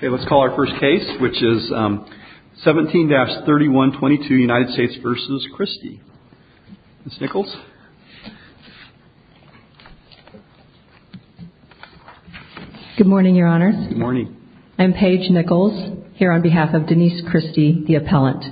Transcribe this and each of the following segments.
Let's call our first case, which is 17-3122, United States v. Christy. Ms. Nichols? Good morning, Your Honors. Good morning. I'm Paige Nichols, here on behalf of Denise Christy, the appellant.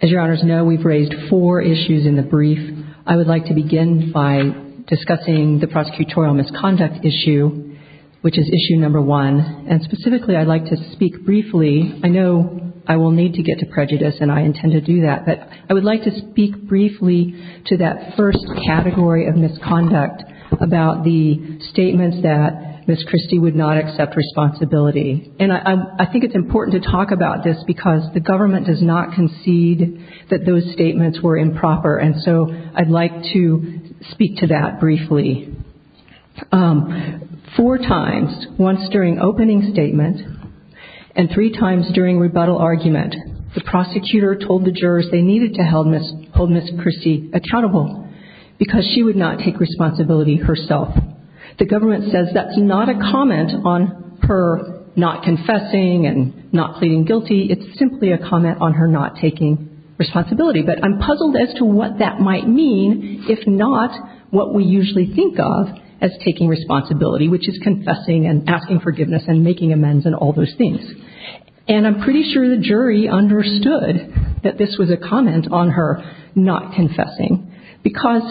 As Your Honors know, we've raised four issues in the brief. I would like to begin by discussing the prosecutorial misconduct issue, which is issue number one. And specifically, I'd like to speak briefly – I know I will need to get to prejudice, and I intend to do that – but I would like to speak briefly to that first category of misconduct about the statements that Ms. Christy would not accept responsibility. And I think it's important to talk about this because the government does not concede that those statements were improper, and so I'd like to speak to that briefly. Four times, once during opening statement and three times during rebuttal argument, the prosecutor told the jurors they needed to hold Ms. Christy accountable because she would not take responsibility herself. The government says that's not a comment on her not confessing and not pleading guilty. It's simply a comment on her not taking responsibility. But I'm puzzled as to what that might mean if not what we usually think of as taking responsibility, which is confessing and asking forgiveness and making amends and all those things. And I'm pretty sure the jury understood that this was a comment on her not confessing because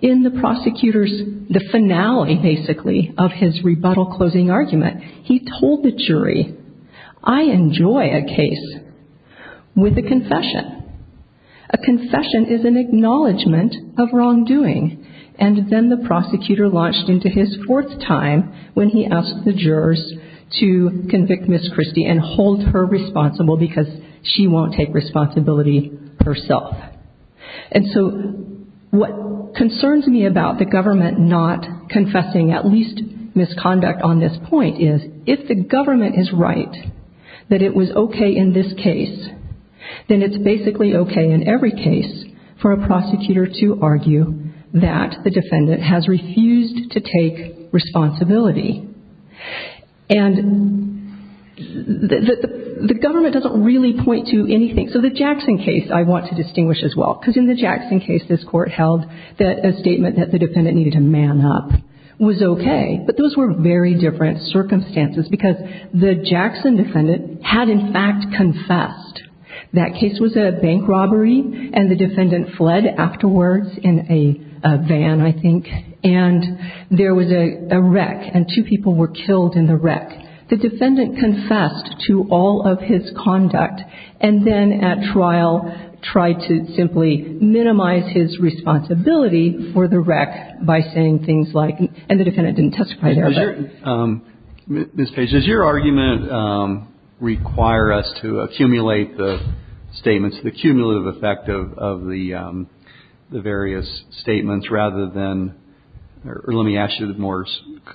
in the prosecutor's – the finale, basically, of his rebuttal closing argument, he told the jury, I enjoy a case with a confession. A confession is an acknowledgment of wrongdoing. And then the prosecutor launched into his fourth time when he asked the jurors to convict Ms. Christy and hold her responsible because she won't take responsibility herself. And so what concerns me about the government not confessing at least misconduct on this point is if the government is right that it was okay in this case, then it's basically okay in every case for a prosecutor to argue that the defendant has refused to take responsibility. And the government doesn't really point to anything. So the Jackson case, I want to touch as well because in the Jackson case, this court held that a statement that the defendant needed to man up was okay. But those were very different circumstances because the Jackson defendant had in fact confessed. That case was a bank robbery and the defendant fled afterwards in a van, I think, and there was a wreck and two people were killed in the wreck. The defendant confessed to all of his conduct and then at trial tried to simply minimize his responsibility for the wreck by saying things like, and the defendant didn't testify there. Mr. Page, does your argument require us to accumulate the statements, the cumulative effect of the various statements rather than, or let me ask you more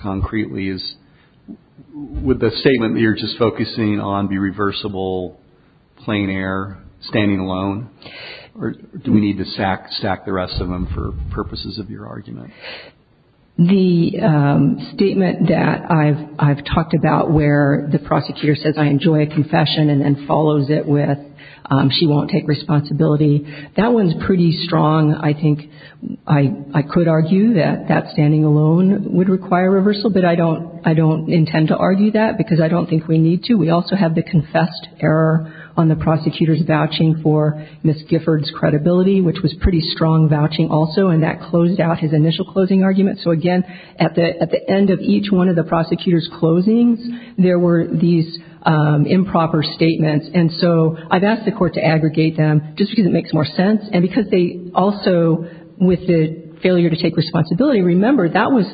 concretely, is would the statement that you're just focusing on be reversible, plain air, standing alone, or do we need to stack the rest of them for purposes of your argument? The statement that I've talked about where the prosecutor says, I enjoy a confession and then follows it with she won't take responsibility, that one's pretty strong. I think I could argue that that standing alone would require reversal, but I don't intend to argue that because I don't think we need to. We also have the confessed error on the prosecutor's vouching for Ms. Gifford's credibility, which was pretty strong vouching also, and that closed out his initial closing argument. So again, at the end of each one of the prosecutor's closings, there were these improper statements. And so I've asked the court to aggregate them just because it makes more sense and because they also, with the failure to take responsibility, remember that was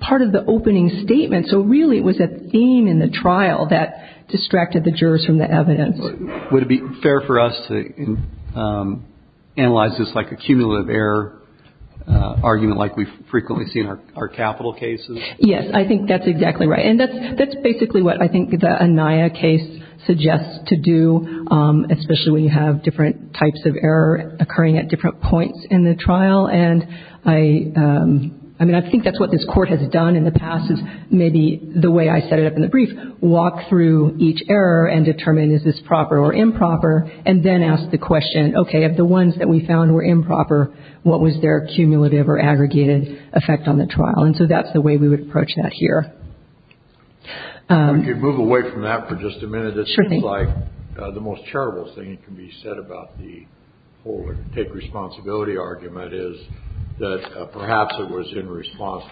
part of the opening statement. So really it was a theme in the trial that distracted the jurors from the evidence. Would it be fair for us to analyze this like a cumulative error argument like we frequently see in our capital cases? Yes, I think that's exactly right. And that's basically what I think the Anaya case suggests to do, especially when you have different types of error occurring at different points in the trial. And I mean, I think that's what this court has done in the past is maybe the way I set it up in the brief, walk through each error and determine is this proper or improper, and then ask the question, okay, of the ones that we found were improper, what was their cumulative or aggregated effect on the trial? And so that's the way we would approach that here. If we could move away from that for just a minute, it seems like the most terrible thing that can be said about the failure to take responsibility argument is that perhaps it was in response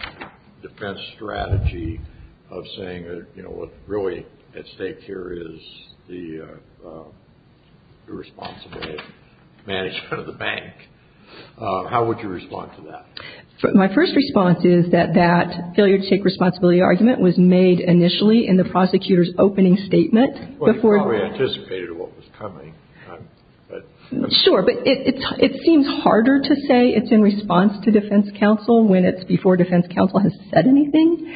to the defense strategy of saying that what's really at stake here is the irresponsibility of management of the bank. How would you respond to that? My first response is that that failure to take responsibility argument was made initially in the prosecutor's opening statement before- Well, you probably anticipated what was coming. Sure, but it seems harder to say it's in response to defense counsel when it's before defense counsel has said anything.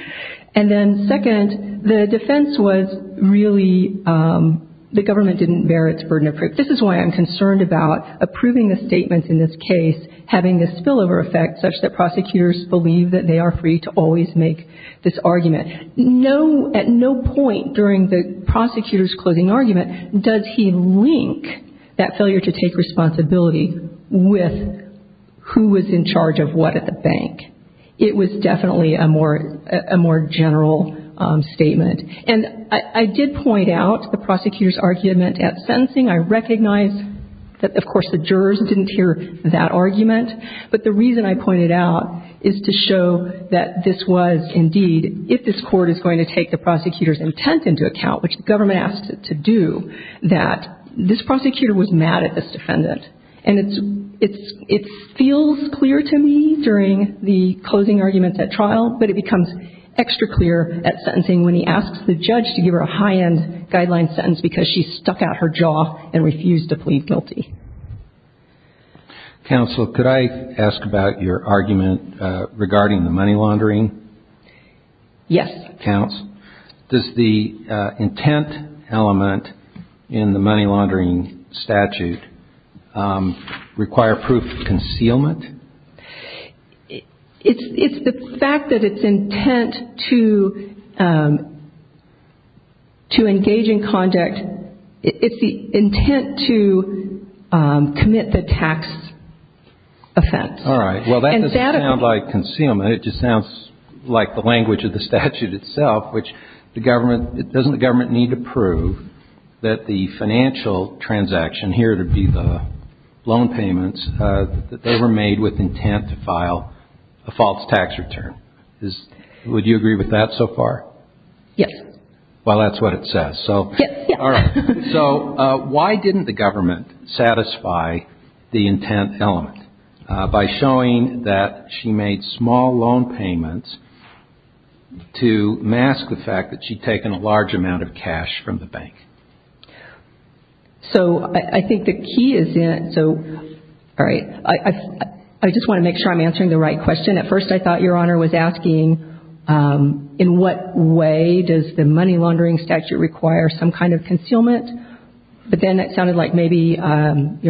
And then second, the defense was really, the government didn't bear its burden of proof. This is why I'm concerned about approving the statements in this case having a spillover effect such that prosecutors believe that they are free to always make this argument. No, at no point during the prosecutor's closing argument does he link that failure to take responsibility with who was in charge of what at the bank. It was definitely a more general statement. And I did point out the prosecutor's argument at sentencing. I recognize that, of course, the jurors didn't hear that argument. But the reason I pointed out is to show that this was indeed, if this Court is going to take the prosecutor's intent into account, which the government asked it to do, that this prosecutor was mad at this defendant. And it's, it feels clear to me during the closing arguments at trial, but it becomes extra clear at sentencing when he asks the judge to give her a high-end guideline sentence because she stuck out her jaw and refused to plead guilty. Counsel, could I ask about your argument regarding the money laundering? Yes. Counsel, does the intent element in the money laundering statute require proof of concealment? It's, it's the fact that it's intent to, to engage in conduct, it's the intent to commit the tax offense. All right. Well, that doesn't sound like concealment. It just sounds like the language of the statute itself, which the government, doesn't the government need to prove that the financial transaction, here it would be the loan payments, that they were made with intent to file a false tax return? Is, would you agree with that so far? Yes. Well, that's what it says. So, all right. So why didn't the government satisfy the intent element by showing that she made small loan payments to mask the fact that she'd taken a large amount of cash from the bank? So I, I think the key is in, so, all right. I, I, I just want to make sure I'm answering the right question. At first I thought Your Honor was asking, in what way does the money laundering statute require some kind of concealment? But then it sounded like maybe Your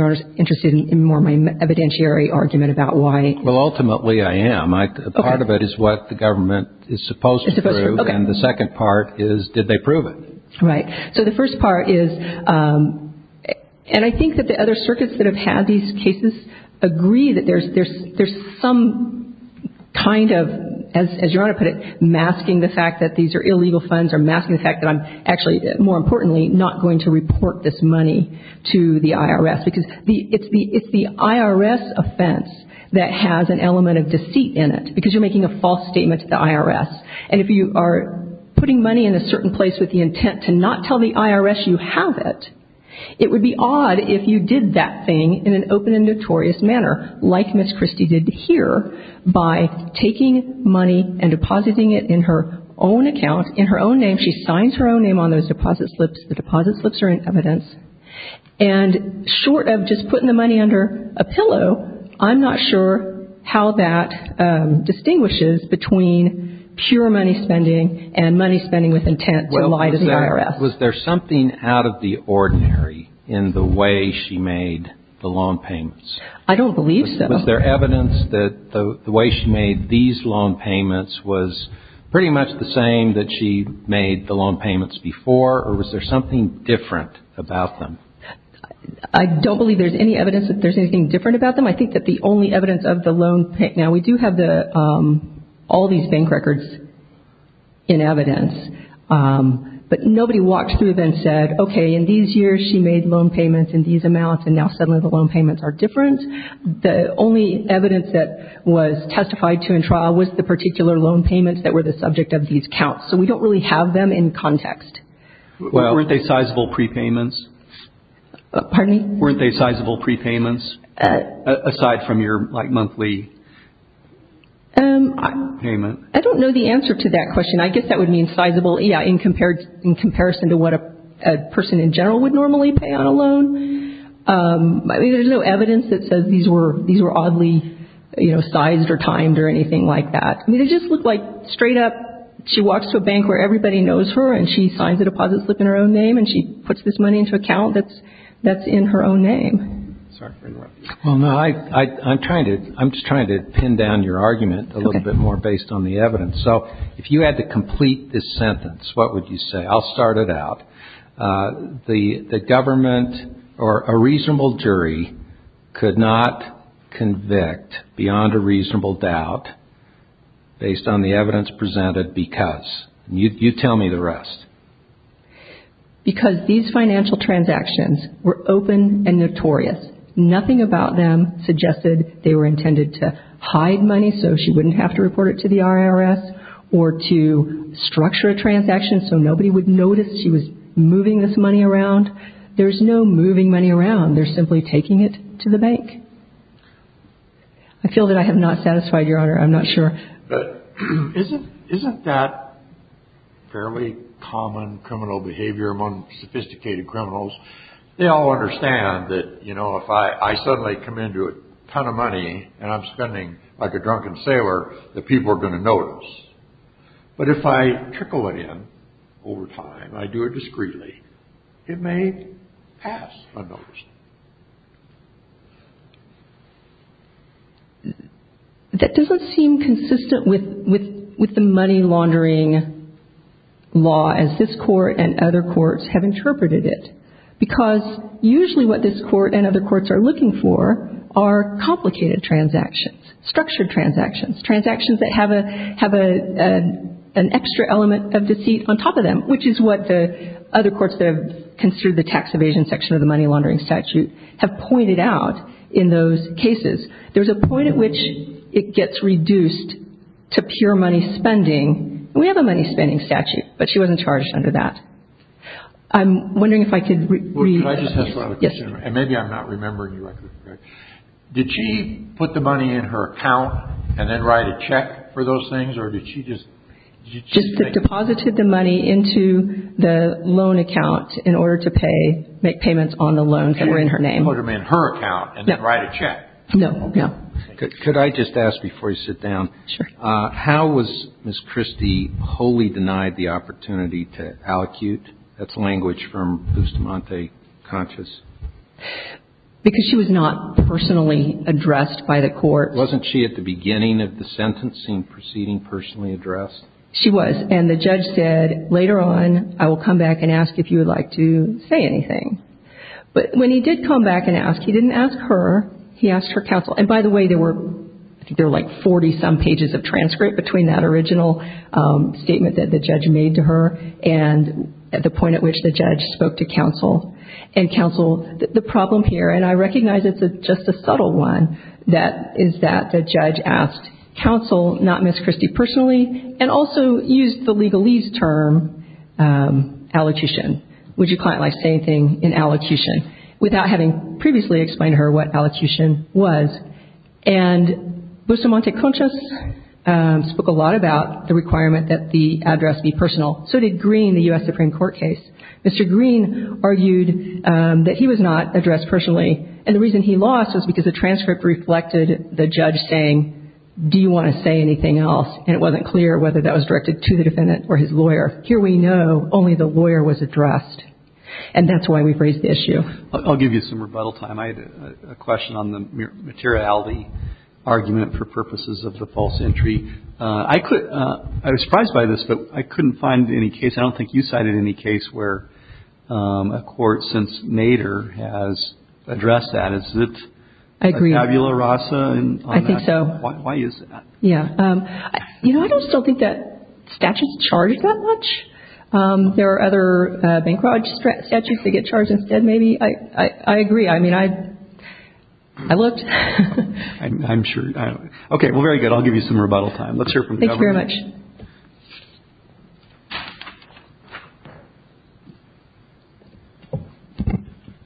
Honor's interested in more my evidentiary argument about why. Well, ultimately I am. I, part of it is what the government is supposed to prove and the did they prove it? Right. So the first part is, and I think that the other circuits that have had these cases agree that there's, there's, there's some kind of, as, as Your Honor put it, masking the fact that these are illegal funds or masking the fact that I'm actually, more importantly, not going to report this money to the IRS. Because the, it's the, it's the IRS offense that has an element of deceit in it. Because you're making a false statement to the IRS. And if you are putting money in a certain place with the intent to not tell the IRS you have it, it would be odd if you did that thing in an open and notorious manner, like Ms. Christie did here, by taking money and depositing it in her own account, in her own name. She signs her own name on those deposit slips. The deposit slips are in evidence. And short of just putting the money under a pillow, I'm not sure how that distinguishes between pure money spending and money spending with intent to lie to the IRS. Was there something out of the ordinary in the way she made the loan payments? I don't believe so. Was there evidence that the way she made these loan payments was pretty much the same that she made the loan payments before? Or was there something different about them? I don't believe there's any evidence that there's anything different about them. I think that the only evidence of the loan... Now, we do have all these bank records in evidence. But nobody walked through them and said, okay, in these years she made loan payments in these amounts and now suddenly the loan payments are different. The only evidence that was testified to in trial was the particular loan payments that were the subject of these counts. So we don't really have them in context. Weren't they sizable prepayments? Pardon me? Weren't they sizable prepayments aside from your monthly payment? I don't know the answer to that question. I guess that would mean sizable in comparison to what a person in general would normally pay on a loan. I mean, there's no evidence that says these were oddly sized or timed or anything like that. I mean, they just look like straight up... She walks to a bank where everybody knows her and she signs a deposit slip in her own name and she puts this money into an account that's in her own name. I'm just trying to pin down your argument a little bit more based on the evidence. So if you had to complete this sentence, what would you say? I'll start it out. The government or a reasonable jury could not convict beyond a reasonable doubt based on the evidence presented because. You tell me the rest. Because these financial transactions were open and notorious. Nothing about them suggested they were intended to hide money so she wouldn't have to report it to the IRS or to structure a transaction so nobody would notice she was moving this money around. There's no moving money around. They're simply taking it to the bank. I feel that I have not satisfied your honor. I'm not sure. But isn't that fairly common criminal behavior among sophisticated criminals? They all understand that, you know, if I suddenly come into a ton of money and I'm spending like a drunken sailor, that people are going to notice. But if I trickle it in over time, I do it discreetly, it may pass unnoticed. That doesn't seem consistent with the money laundering law as this Court and other courts have interpreted it. Because usually what this Court and other courts are looking for are complicated transactions, structured transactions, transactions that have an extra element of deceit on top of them, which is what the other courts that have construed the tax evasion section of the money laundering statute have pointed out in those cases. There's a point at which it gets reduced to pure money spending. We have a money spending statute, but she wasn't charged under that. I'm wondering if I could rephrase that. Well, can I just ask one other question? And maybe I'm not remembering directly. Did she put the money in her account and then write a check for those things or did she just – Just deposited the money into the loan account in order to pay, make payments on the loans that were in her name. In order to make her account and then write a check. No, no. Could I just ask before you sit down? Sure. How was Ms. Christie wholly denied the opportunity to allocute? That's language from Bustamante, conscious. Because she was not personally addressed by the court. Wasn't she at the beginning of the sentencing proceeding personally addressed? She was. And the judge said, later on, I will come back and ask if you would like to say anything. But when he did come back and ask, he didn't ask her. He asked her counsel. And by the way, there were, I think there were like 40-some pages of transcript between that original statement that the judge made to her and at the point at which the judge spoke to counsel. And counsel, the problem here, and I recognize it's just a subtle one, that is that the judge asked counsel, not Ms. Christie personally, and also used the legalese term allocution. Would you quite like to say anything in allocution without having previously explained to her what allocution was? And Bustamante conscious spoke a lot about the requirement that the address be personal. So did Green, the U.S. Supreme Court case. Mr. Green argued that he was not addressed personally. And the reason he lost was because the transcript reflected the judge saying, do you want to say anything else? And it wasn't clear whether that was directed to the defendant or his lawyer. Here we know only the lawyer was addressed. And that's why we've raised the issue. I'll give you some rebuttal time. I had a question on the materiality argument for purposes of the false entry. I was surprised by this, but I couldn't find any case, I don't think you cited any case where a court since Nader has addressed that. Is it Tabula Rasa? I think so. Why is that? Yeah. You know, I don't still think that statute is charged that much. There are other bankrupt statutes that get charged instead. Maybe. I agree. I mean, I looked. I'm sure. OK, well, very good. I'll give you some rebuttal time. Let's hear from the government.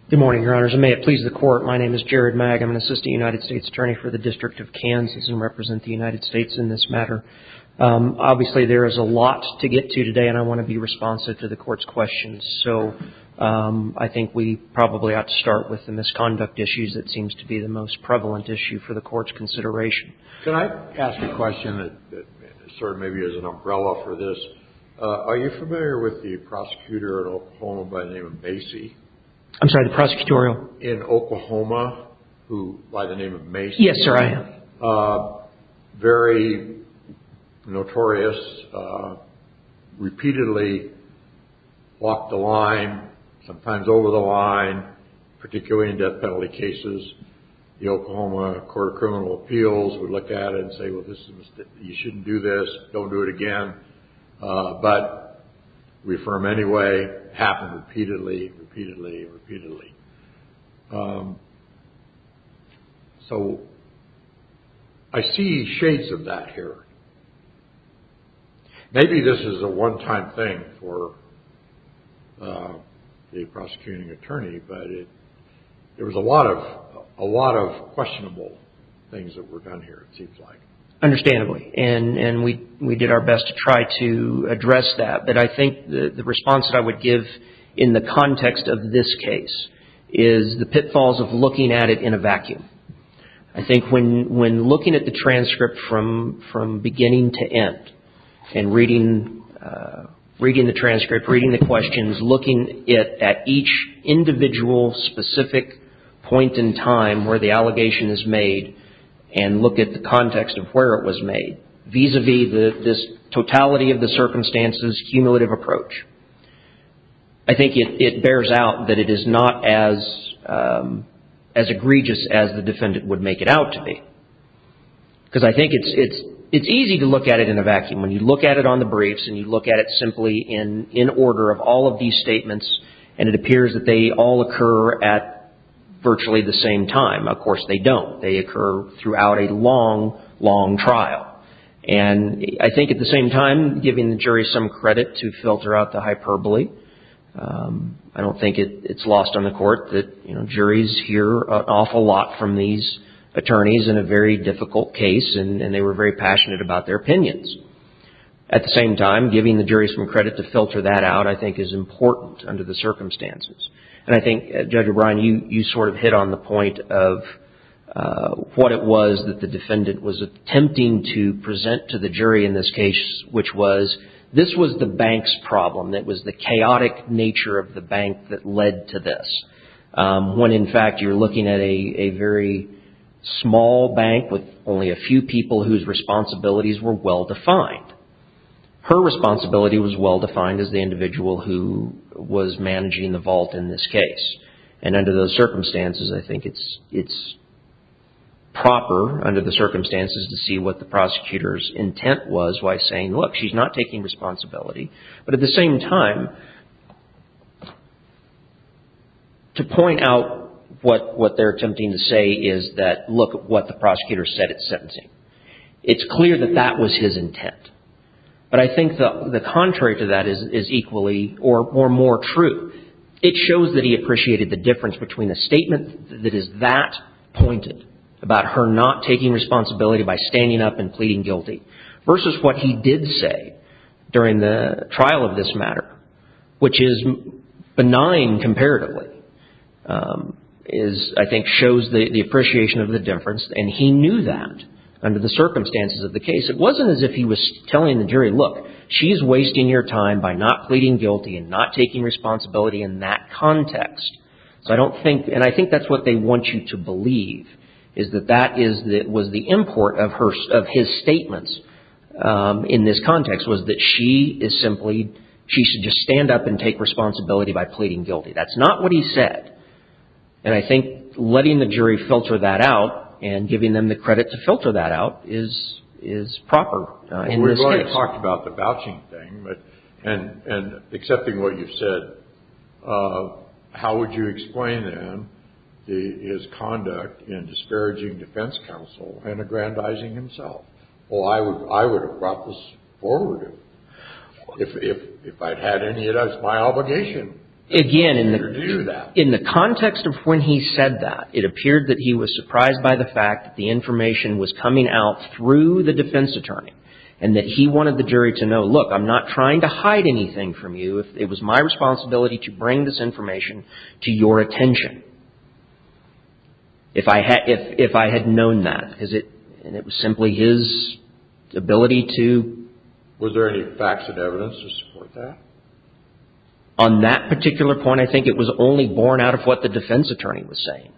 Good morning, Your Honors, and may it please the court, my name is Jared Magg. I'm an assistant United States attorney for the District of Kansas and represent the United States in this matter. Obviously, there is a lot to get to today, and I want to be responsive to the court's questions. So I think we probably ought to start with the misconduct issues. That seems to be the most prevalent issue for the court's consideration. Can I ask a question that sort of maybe is an umbrella for this? Are you familiar with the prosecutor in Oklahoma by the name of Macy? I'm sorry, the prosecutorial? In Oklahoma, who by the name of Macy. Yes, sir, I am. Very notorious, repeatedly blocked the line, sometimes over the line, particularly in death penalty cases. The Oklahoma Court of Criminal Appeals would look at it and say, well, this is a mistake. You shouldn't do this. Don't do it again. But we affirm anyway, happened repeatedly, repeatedly, repeatedly. So I see shades of that here. Maybe this is a one time thing for the prosecuting attorney, but it was a lot of questionable things that were done here, it seems like. Understandably, and we did our best to try to address that. But I think the response that I would give in the context of this case is the pitfalls of looking at it in a vacuum. I think when looking at the transcript from beginning to end and reading the transcript, reading the questions, looking at each individual specific point in time where the allegation is made and look at the context of where it was made vis-a-vis this totality of the circumstances, cumulative approach. I think it bears out that it is not as egregious as the defendant would make it out to be. Because I think it's easy to look at it in a vacuum. When you look at it on the briefs and you look at it simply in order of all of these statements, and it appears that they all occur at virtually the same time. Of course, they don't. They occur throughout a long, long trial. And I think at the same time, giving the jury some credit to filter out the hyperbole. I don't think it's lost on the court that juries hear an awful lot from these attorneys in a very difficult case. And they were very passionate about their opinions. At the same time, giving the jury some credit to filter that out, I think, is important under the circumstances. And I think, Judge O'Brien, you sort of hit on the point of what it was that the defendant was attempting to present to the jury in this case, which was this was the bank's problem. It was the chaotic nature of the bank that led to this. When, in fact, you're looking at a very small bank with only a few people whose responsibilities were well-defined. Her responsibility was well-defined as the individual who was managing the vault in this case. And under those circumstances, I think it's proper under the circumstances to see what the prosecutor's intent was by saying, look, she's not taking responsibility. But at the same time, to point out what they're attempting to say is that, look at what the prosecutor said at sentencing. It's clear that that was his intent. But I think the contrary to that is equally or more true. It shows that he appreciated the difference between a statement that is that pointed about her not taking responsibility by standing up and pleading guilty versus what he did say during the trial of this matter, which is benign comparatively, is, I think, shows the appreciation of the difference. And he knew that under the circumstances of the case. It wasn't as if he was telling the jury, look, she's wasting your time by not pleading guilty and not taking responsibility in that context. So I don't think and I think that's what they want you to believe is that that is that was the import of her of his statements in this context was that she is simply she should just stand up and take responsibility by pleading guilty. That's not what he said. And I think letting the jury filter that out and giving them the credit to filter that out is is proper. And we're going to talk about the vouching thing. But and and accepting what you've said, how would you explain that his conduct in disparaging defense counsel and aggrandizing himself? Well, I would I would have brought this forward if if if I'd had any of that's my obligation. Again, in the in the context of when he said that, it appeared that he was surprised by the fact that the information was coming out through the defense attorney and that he wanted the jury to know, look, I'm not trying to hide anything from you. If it was my responsibility to bring this information to your attention. If I had if if I had known that because it and it was simply his ability to. Was there any facts and evidence to support that? On that particular point, I think it was only borne out of what the defense attorney was saying.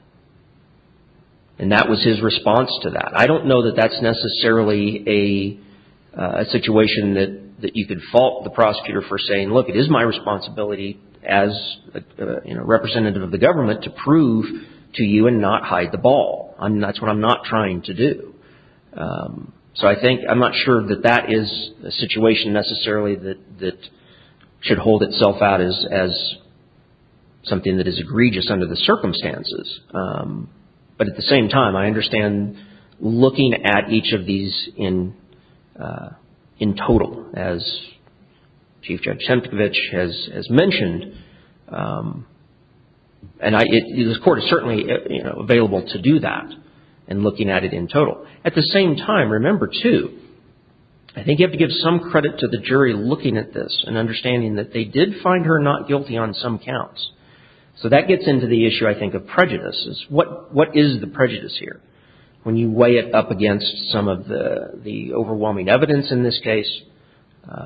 And that was his response to that. I don't know that that's necessarily a situation that that you could fault the prosecutor for saying, look, it is my responsibility as a representative of the government to prove to you and not hide the ball. I mean, that's what I'm not trying to do. So I think I'm not sure that that is a situation necessarily that that should hold itself out as as something that is egregious under the circumstances. But at the same time, I understand looking at each of these in in total, as Chief Judge Semkevich has mentioned. And this court is certainly available to do that and looking at it in total. At the same time, remember, too, I think you have to give some credit to the jury looking at this and understanding that they did find her not guilty on some counts. So that gets into the issue, I think, of prejudices. What what is the prejudice here when you weigh it up against some of the the overwhelming evidence in this case? Does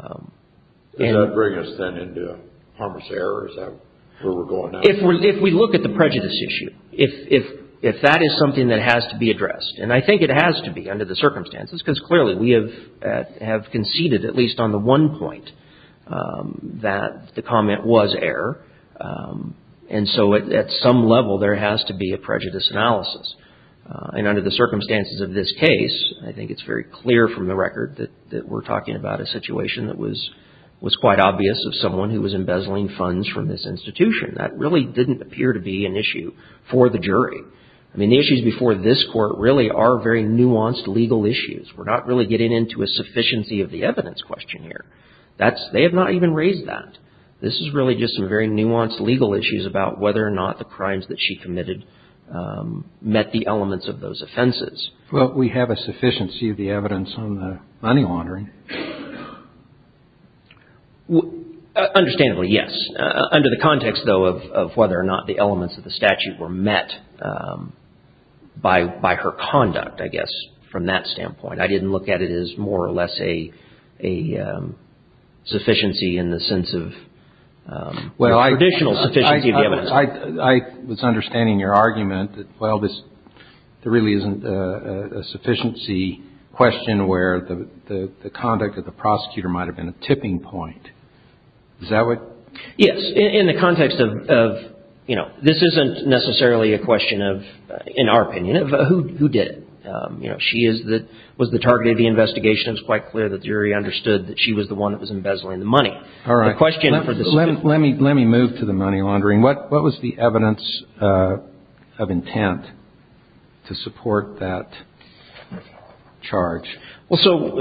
that bring us then into a harmless error? Is that where we're going now? If we if we look at the prejudice issue, if if if that is something that has to be addressed. And I think it has to be under the circumstances, because clearly we have have conceded at least on the one point that the comment was error. And so at some level, there has to be a prejudice analysis. And under the circumstances of this case, I think it's very clear from the record that that we're talking about a situation that was was quite obvious of someone who was embezzling funds from this institution that really didn't appear to be an issue for the jury. I mean, the issues before this court really are very nuanced legal issues. We're not really getting into a sufficiency of the evidence question here. That's they have not even raised that. This is really just some very nuanced legal issues about whether or not the crimes that she committed met the elements of those offenses. Well, we have a sufficiency of the evidence on the money laundering. Understandably, yes. Under the context, though, of whether or not the elements of the statute were met by by her conduct, I guess, from that standpoint, I didn't look at it as more or less a a sufficiency in the sense of what I traditional. So I was understanding your argument that, well, this really isn't a sufficiency question where the the the comment was error. The conduct of the prosecutor might have been a tipping point. Is that what yes. In the context of of, you know, this isn't necessarily a question of, in our opinion, of who who did you know she is that was the target of the investigation. It's quite clear the jury understood that she was the one that was embezzling the money. All right. Question for this. Let me let me move to the money laundering. What what was the evidence of intent to support that charge? Well, so,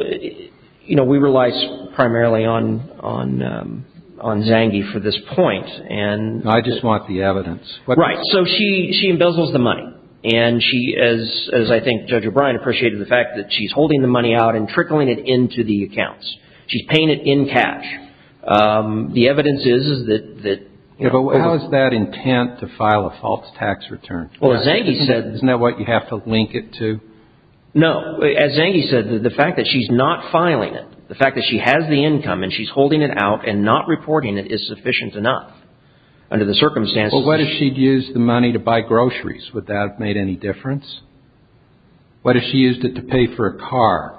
you know, we rely primarily on on on Zangie for this point. And I just want the evidence. Right. So she she embezzles the money. And she is, as I think Judge O'Brien appreciated the fact that she's holding the money out and trickling it into the accounts. She's paying it in cash. The evidence is that that was that intent to file a false tax return. Well, Zangie said, isn't that what you have to link it to? No. As Zangie said, the fact that she's not filing it, the fact that she has the income and she's holding it out and not reporting it is sufficient enough under the circumstances. But what if she'd used the money to buy groceries? Would that have made any difference? What if she used it to pay for a car?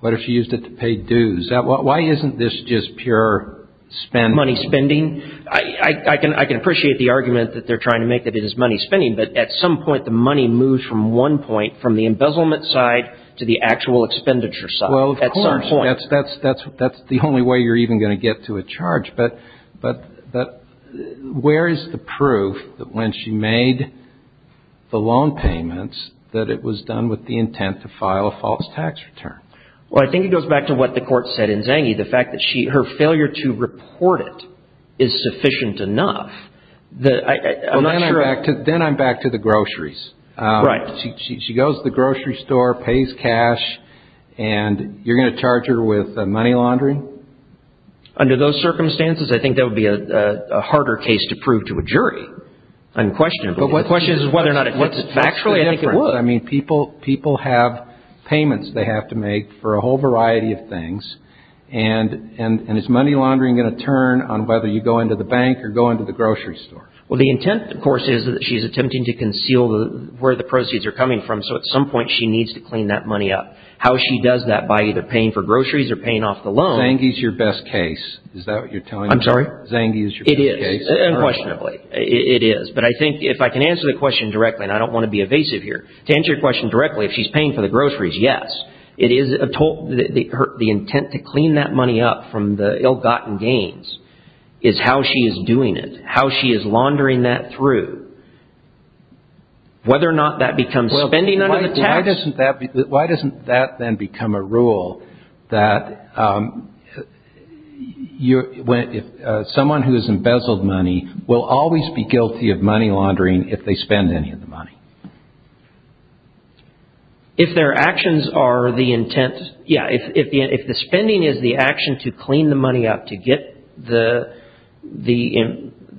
What if she used it to pay dues? Why isn't this just pure money spending? I can I can appreciate the argument that they're trying to make that it is money spending. But at some point, the money moves from one point from the embezzlement side to the actual expenditure side. Well, that's that's that's that's the only way you're even going to get to a charge. But but but where is the proof that when she made the loan payments, that it was done with the intent to file a false tax return? Well, I think it goes back to what the court said in Zangie. The fact that she her failure to report it is sufficient enough that I'm not sure. Then I'm back to the groceries. Right. She goes to the grocery store, pays cash, and you're going to charge her with money laundering. Under those circumstances, I think that would be a harder case to prove to a jury. Unquestionably, the question is whether or not it's actually different. I mean, people people have payments they have to make for a whole variety of things. And and it's money laundering going to turn on whether you go into the bank or go into the grocery store. Well, the intent, of course, is that she's attempting to conceal where the proceeds are coming from. So at some point she needs to clean that money up. How she does that by either paying for groceries or paying off the loan. Zangie is your best case. Is that what you're telling? I'm sorry. Zangie is your best case? It is. Unquestionably, it is. But I think if I can answer the question directly, and I don't want to be evasive here to answer your question directly, if she's paying for the groceries. Yes, it is a total the intent to clean that money up from the ill gotten gains is how she is doing it. How she is laundering that through. Whether or not that becomes spending under the tax. Why doesn't that then become a rule that if someone who is embezzled money will always be guilty of money laundering if they spend any of the money? If their actions are the intent. Yeah. If the spending is the action to clean the money up to get the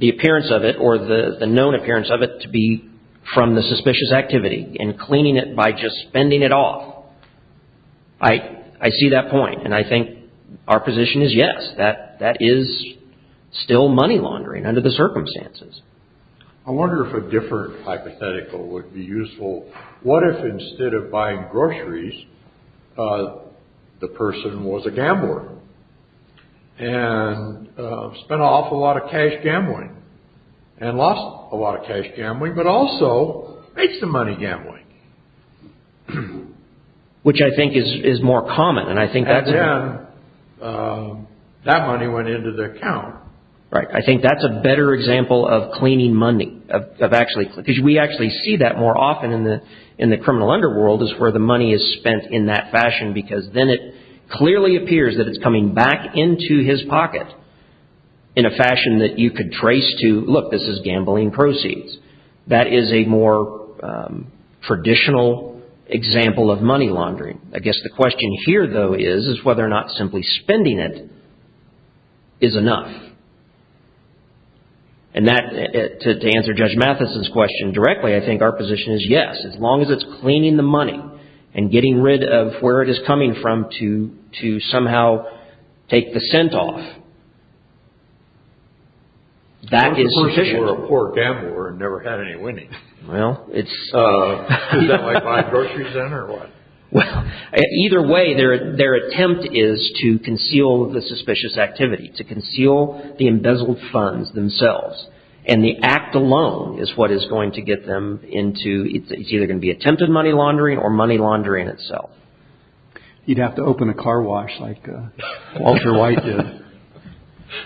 appearance of it or the known appearance of it to be from the suspicious activity and cleaning it by just spending it off. I see that point. And I think our position is, yes, that is still money laundering under the circumstances. I wonder if a different hypothetical would be useful. What if instead of buying groceries, the person was a gambler and spent an awful lot of cash gambling and lost a lot of cash gambling, but also made some money gambling? Which I think is more common. And I think that money went into their account. Right. I think that's a better example of cleaning money of actually because we actually see that more often in the in the criminal underworld is where the money is spent in that fashion, because then it clearly appears that it's coming back into his pocket. In a fashion that you could trace to look, this is gambling proceeds, that is a more traditional example of money laundering. I guess the question here, though, is, is whether or not simply spending it. Is enough. And that to answer Judge Mathison's question directly, I think our position is, yes, as long as it's cleaning the money and getting rid of where it is coming from to to somehow take the scent off. That is a poor gambler and never had any winning. Well, it's like buying groceries in or what? Either way, their their attempt is to conceal the suspicious activity, to conceal the embezzled funds themselves. And the act alone is what is going to get them into it's either going to be attempted money laundering or money laundering itself. You'd have to open a car wash like Walter White did.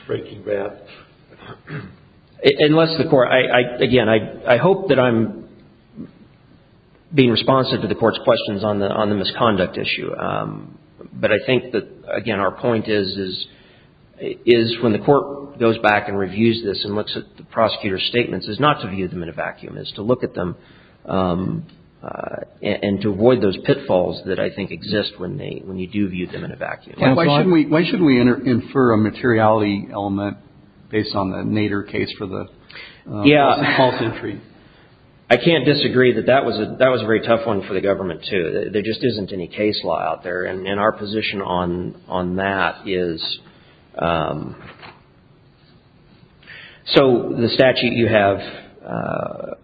Breaking bad. Unless the court I again, I hope that I'm being responsive to the court's questions on the on the misconduct issue. But I think that, again, our point is, is is when the court goes back and reviews this and looks at the prosecutor's statements is not to view them in a vacuum is to look at them and to avoid those pitfalls that I think exist when they when you do view them in a vacuum. Why shouldn't we why shouldn't we infer a materiality element based on the Nader case for the. Yeah. I can't disagree that that was that was a very tough one for the government to there just isn't any case law out there. And our position on on that is. So the statute you have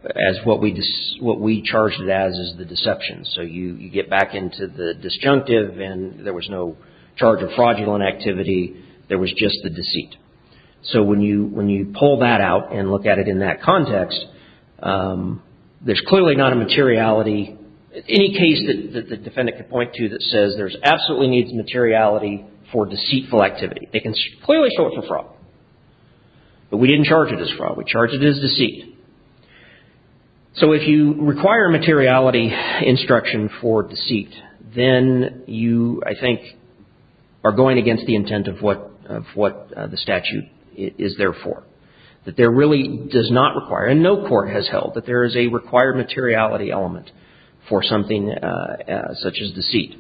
as what we what we charged it as is the deception. So you get back into the disjunctive and there was no charge of fraudulent activity. There was just the deceit. So when you when you pull that out and look at it in that context, there's clearly not a materiality. Any case that the defendant could point to that says there's absolutely needs materiality for deceitful activity. They can clearly show it for fraud. But we didn't charge it as fraud. We charge it as deceit. So if you require a materiality instruction for deceit, then you, I think, are going against the intent of what of what the statute is there for that there really does not require and no court has held that there is a required materiality element for something such as deceit.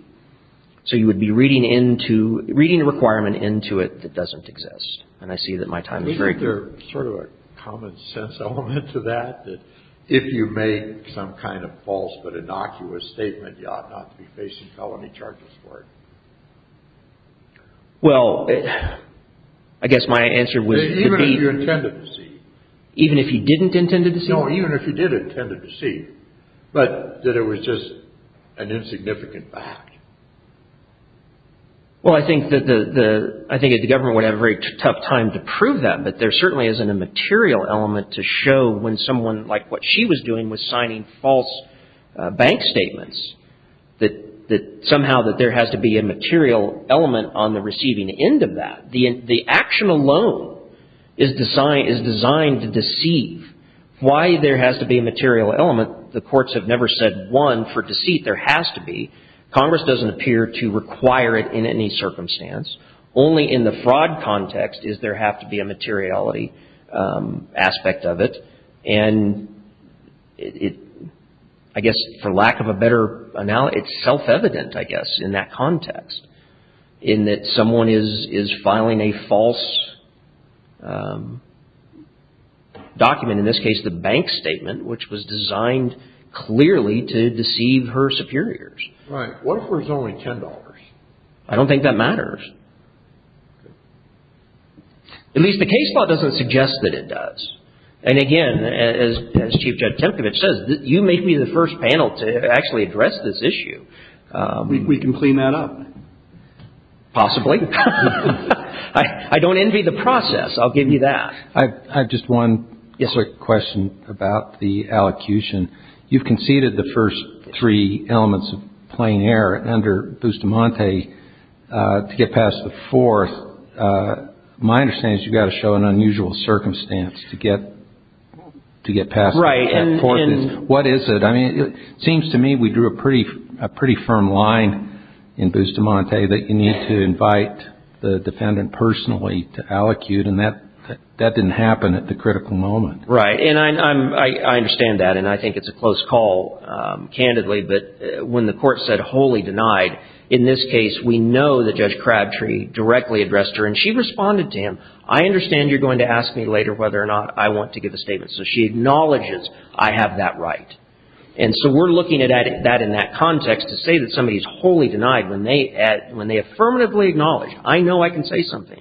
So you would be reading into reading a requirement into it that doesn't exist. And I see that my time is very clear. Sort of a common sense element to that, that if you make some kind of false but innocuous statement, you ought not to be facing felony charges for it. Well, I guess my answer was even if you intended to see even if you didn't intend to see or even if you did intend to see, but that it was just an insignificant fact. Well, I think that the I think the government would have a very tough time to prove that, but there certainly isn't a material element to show when someone like what she was doing was signing false bank statements that that somehow that there has to be a material element on the receiving end of that, the the action alone is designed is designed to deceive why there has to be a material element. The courts have never said one for deceit. There has to be. Congress doesn't appear to require it in any circumstance. Only in the fraud context is there have to be a materiality aspect of it. And it I guess, for lack of a better analogy, it's self-evident, I guess, in that context in that someone is is filing a false document, in this case, the bank statement, which was designed clearly to deceive her superiors. Right. What if there's only ten dollars? I don't think that matters. At least the case law doesn't suggest that it does. And again, as Chief Judge Temkevich says, you make me the first panel to actually address this issue. We can clean that up. Possibly. I don't envy the process. I'll give you that. I have just one quick question about the allocution. You've conceded the first three elements of plain error under Bustamante to get past the fourth. My understanding is you've got to show an unusual circumstance to get to get past. Right. And what is it? I mean, it seems to me we drew a pretty a pretty firm line in Bustamante that you need to invite the defendant personally to allocute. And that that didn't happen at the critical moment. Right. And I understand that. And I think it's a close call, candidly. But when the court said wholly denied in this case, we know that Judge Crabtree directly addressed her and she responded to him. I understand you're going to ask me later whether or not I want to give a statement. So she acknowledges I have that right. And so we're looking at that in that context to say that somebody is wholly denied when they when they affirmatively acknowledge, I know I can say something.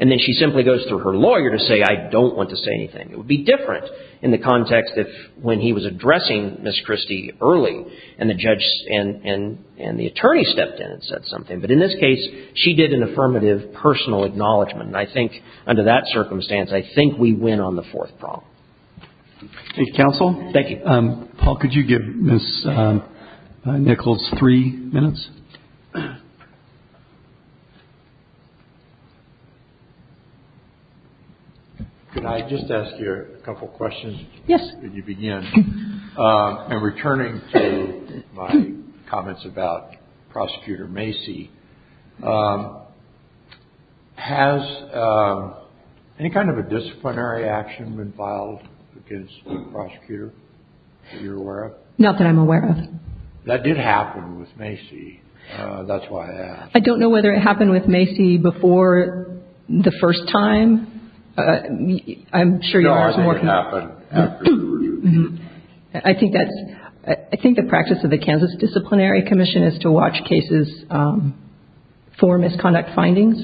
And then she simply goes through her lawyer to say, I don't want to say anything. It would be different in the context if when he was addressing Miss Christie early and the judge and and and the attorney stepped in and said something. But in this case, she did an affirmative personal acknowledgment. And I think under that circumstance, I think we win on the fourth problem. Counsel, thank you. Paul, could you give Miss Nichols three minutes? Could I just ask you a couple of questions? Yes. Could you begin? And returning to my comments about Prosecutor Macy, has any kind of a disciplinary action been filed against the prosecutor that you're aware of? Not that I'm aware of. That did happen with Macy. That's why I don't know whether it happened with Macy before the first time. I'm sure you are. I think that's I think the practice of the Kansas Disciplinary Commission is to watch cases for misconduct findings.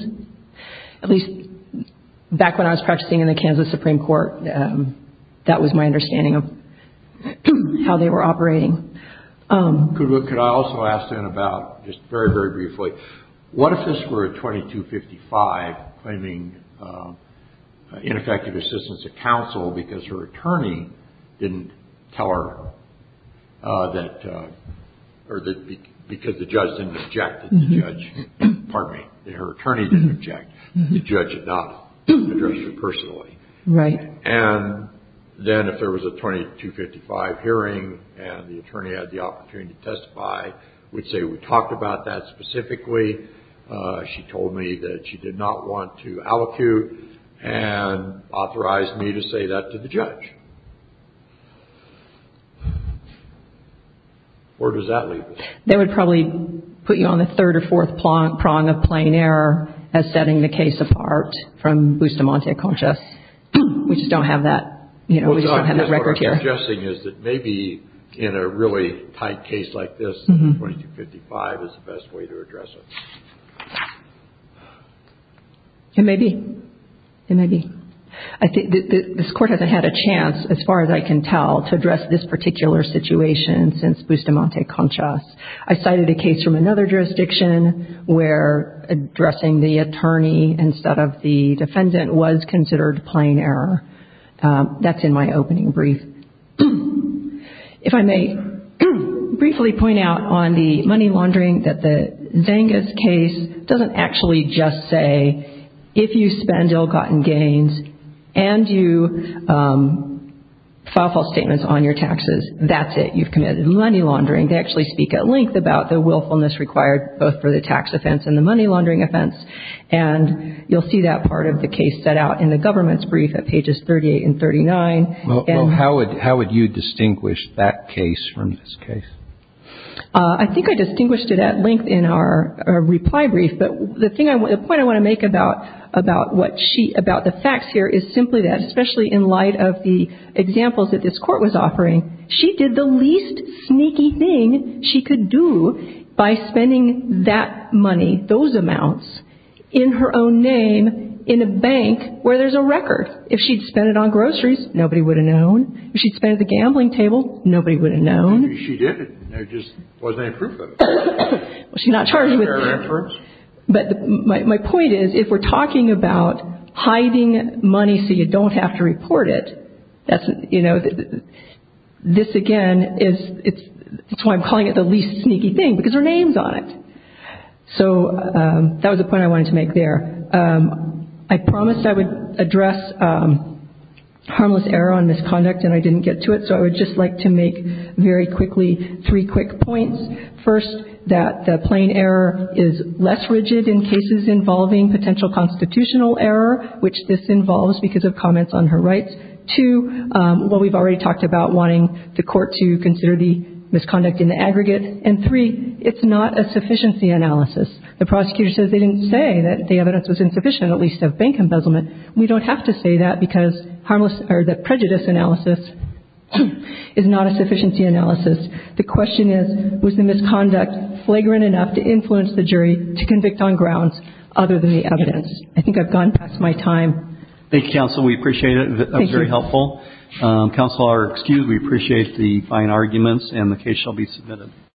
At least back when I was practicing in the Kansas Supreme Court, that was my understanding of how they were operating. Could I also ask then about, just very, very briefly, what if this were a 2255 claiming ineffective assistance of counsel because her attorney didn't tell her that or that because the judge didn't object that the judge, pardon me, that her attorney didn't object, the judge did not address her personally. Right. And then if there was a 2255 hearing and the attorney had the opportunity to testify, would say we talked about that specifically, she told me that she did not want to allocute, and authorized me to say that to the judge. Where does that leave us? They would probably put you on the third or fourth prong of plain error as setting the case apart from Bustamante-Conchas. We just don't have that, you know, we just don't have that record here. What I'm suggesting is that maybe in a really tight case like this, 2255 is the best way to address it. It may be. It may be. I think this court hasn't had a chance, as far as I can tell, to address this particular situation since Bustamante-Conchas. I cited a case from another jurisdiction where addressing the attorney instead of the defendant was considered plain error. That's in my opening brief. If I may briefly point out on the money laundering that the Zangas case doesn't actually just say, if you spend ill-gotten gains and you file false statements on your taxes, that's it, you've committed money laundering. They actually speak at length about the willfulness required both for the tax offense and the money laundering offense, and you'll see that part of the case set out in the government's brief at pages 38 and 39. Well, how would you distinguish that case from this case? I think I distinguished it at length in our reply brief, but the point I want to make about the facts here is simply that, especially in light of the examples that this court was offering, she did the least sneaky thing she could do by spending that money, those amounts, in her own name in a bank where there's a record. If she'd spent it on groceries, nobody would have known. If she'd spent it at the gambling table, nobody would have known. She did. There just wasn't any proof of it. She's not charged with it. Fair inference. But my point is, if we're talking about hiding money so you don't have to report it, that's, you know, this again is, it's why I'm calling it the least sneaky thing, because there are names on it. So that was the point I wanted to make there. I promised I would address harmless error on misconduct and I didn't get to it, so I would just like to make very quickly three quick points. First, that the plain error is less rigid in cases involving potential constitutional error, which this involves because of comments on her rights. Two, what we've already talked about, wanting the court to consider the misconduct in the aggregate. And three, it's not a sufficiency analysis. The prosecutor says they didn't say that the evidence was insufficient, at least of bank embezzlement. We don't have to say that because harmless or the prejudice analysis is not a sufficiency analysis. The question is, was the misconduct flagrant enough to influence the jury to convict on grounds other than the evidence? I think I've gone past my time. Thank you, counsel. We appreciate it. That was very helpful. Counselor, excuse me, we appreciate the fine arguments and the case shall be submitted.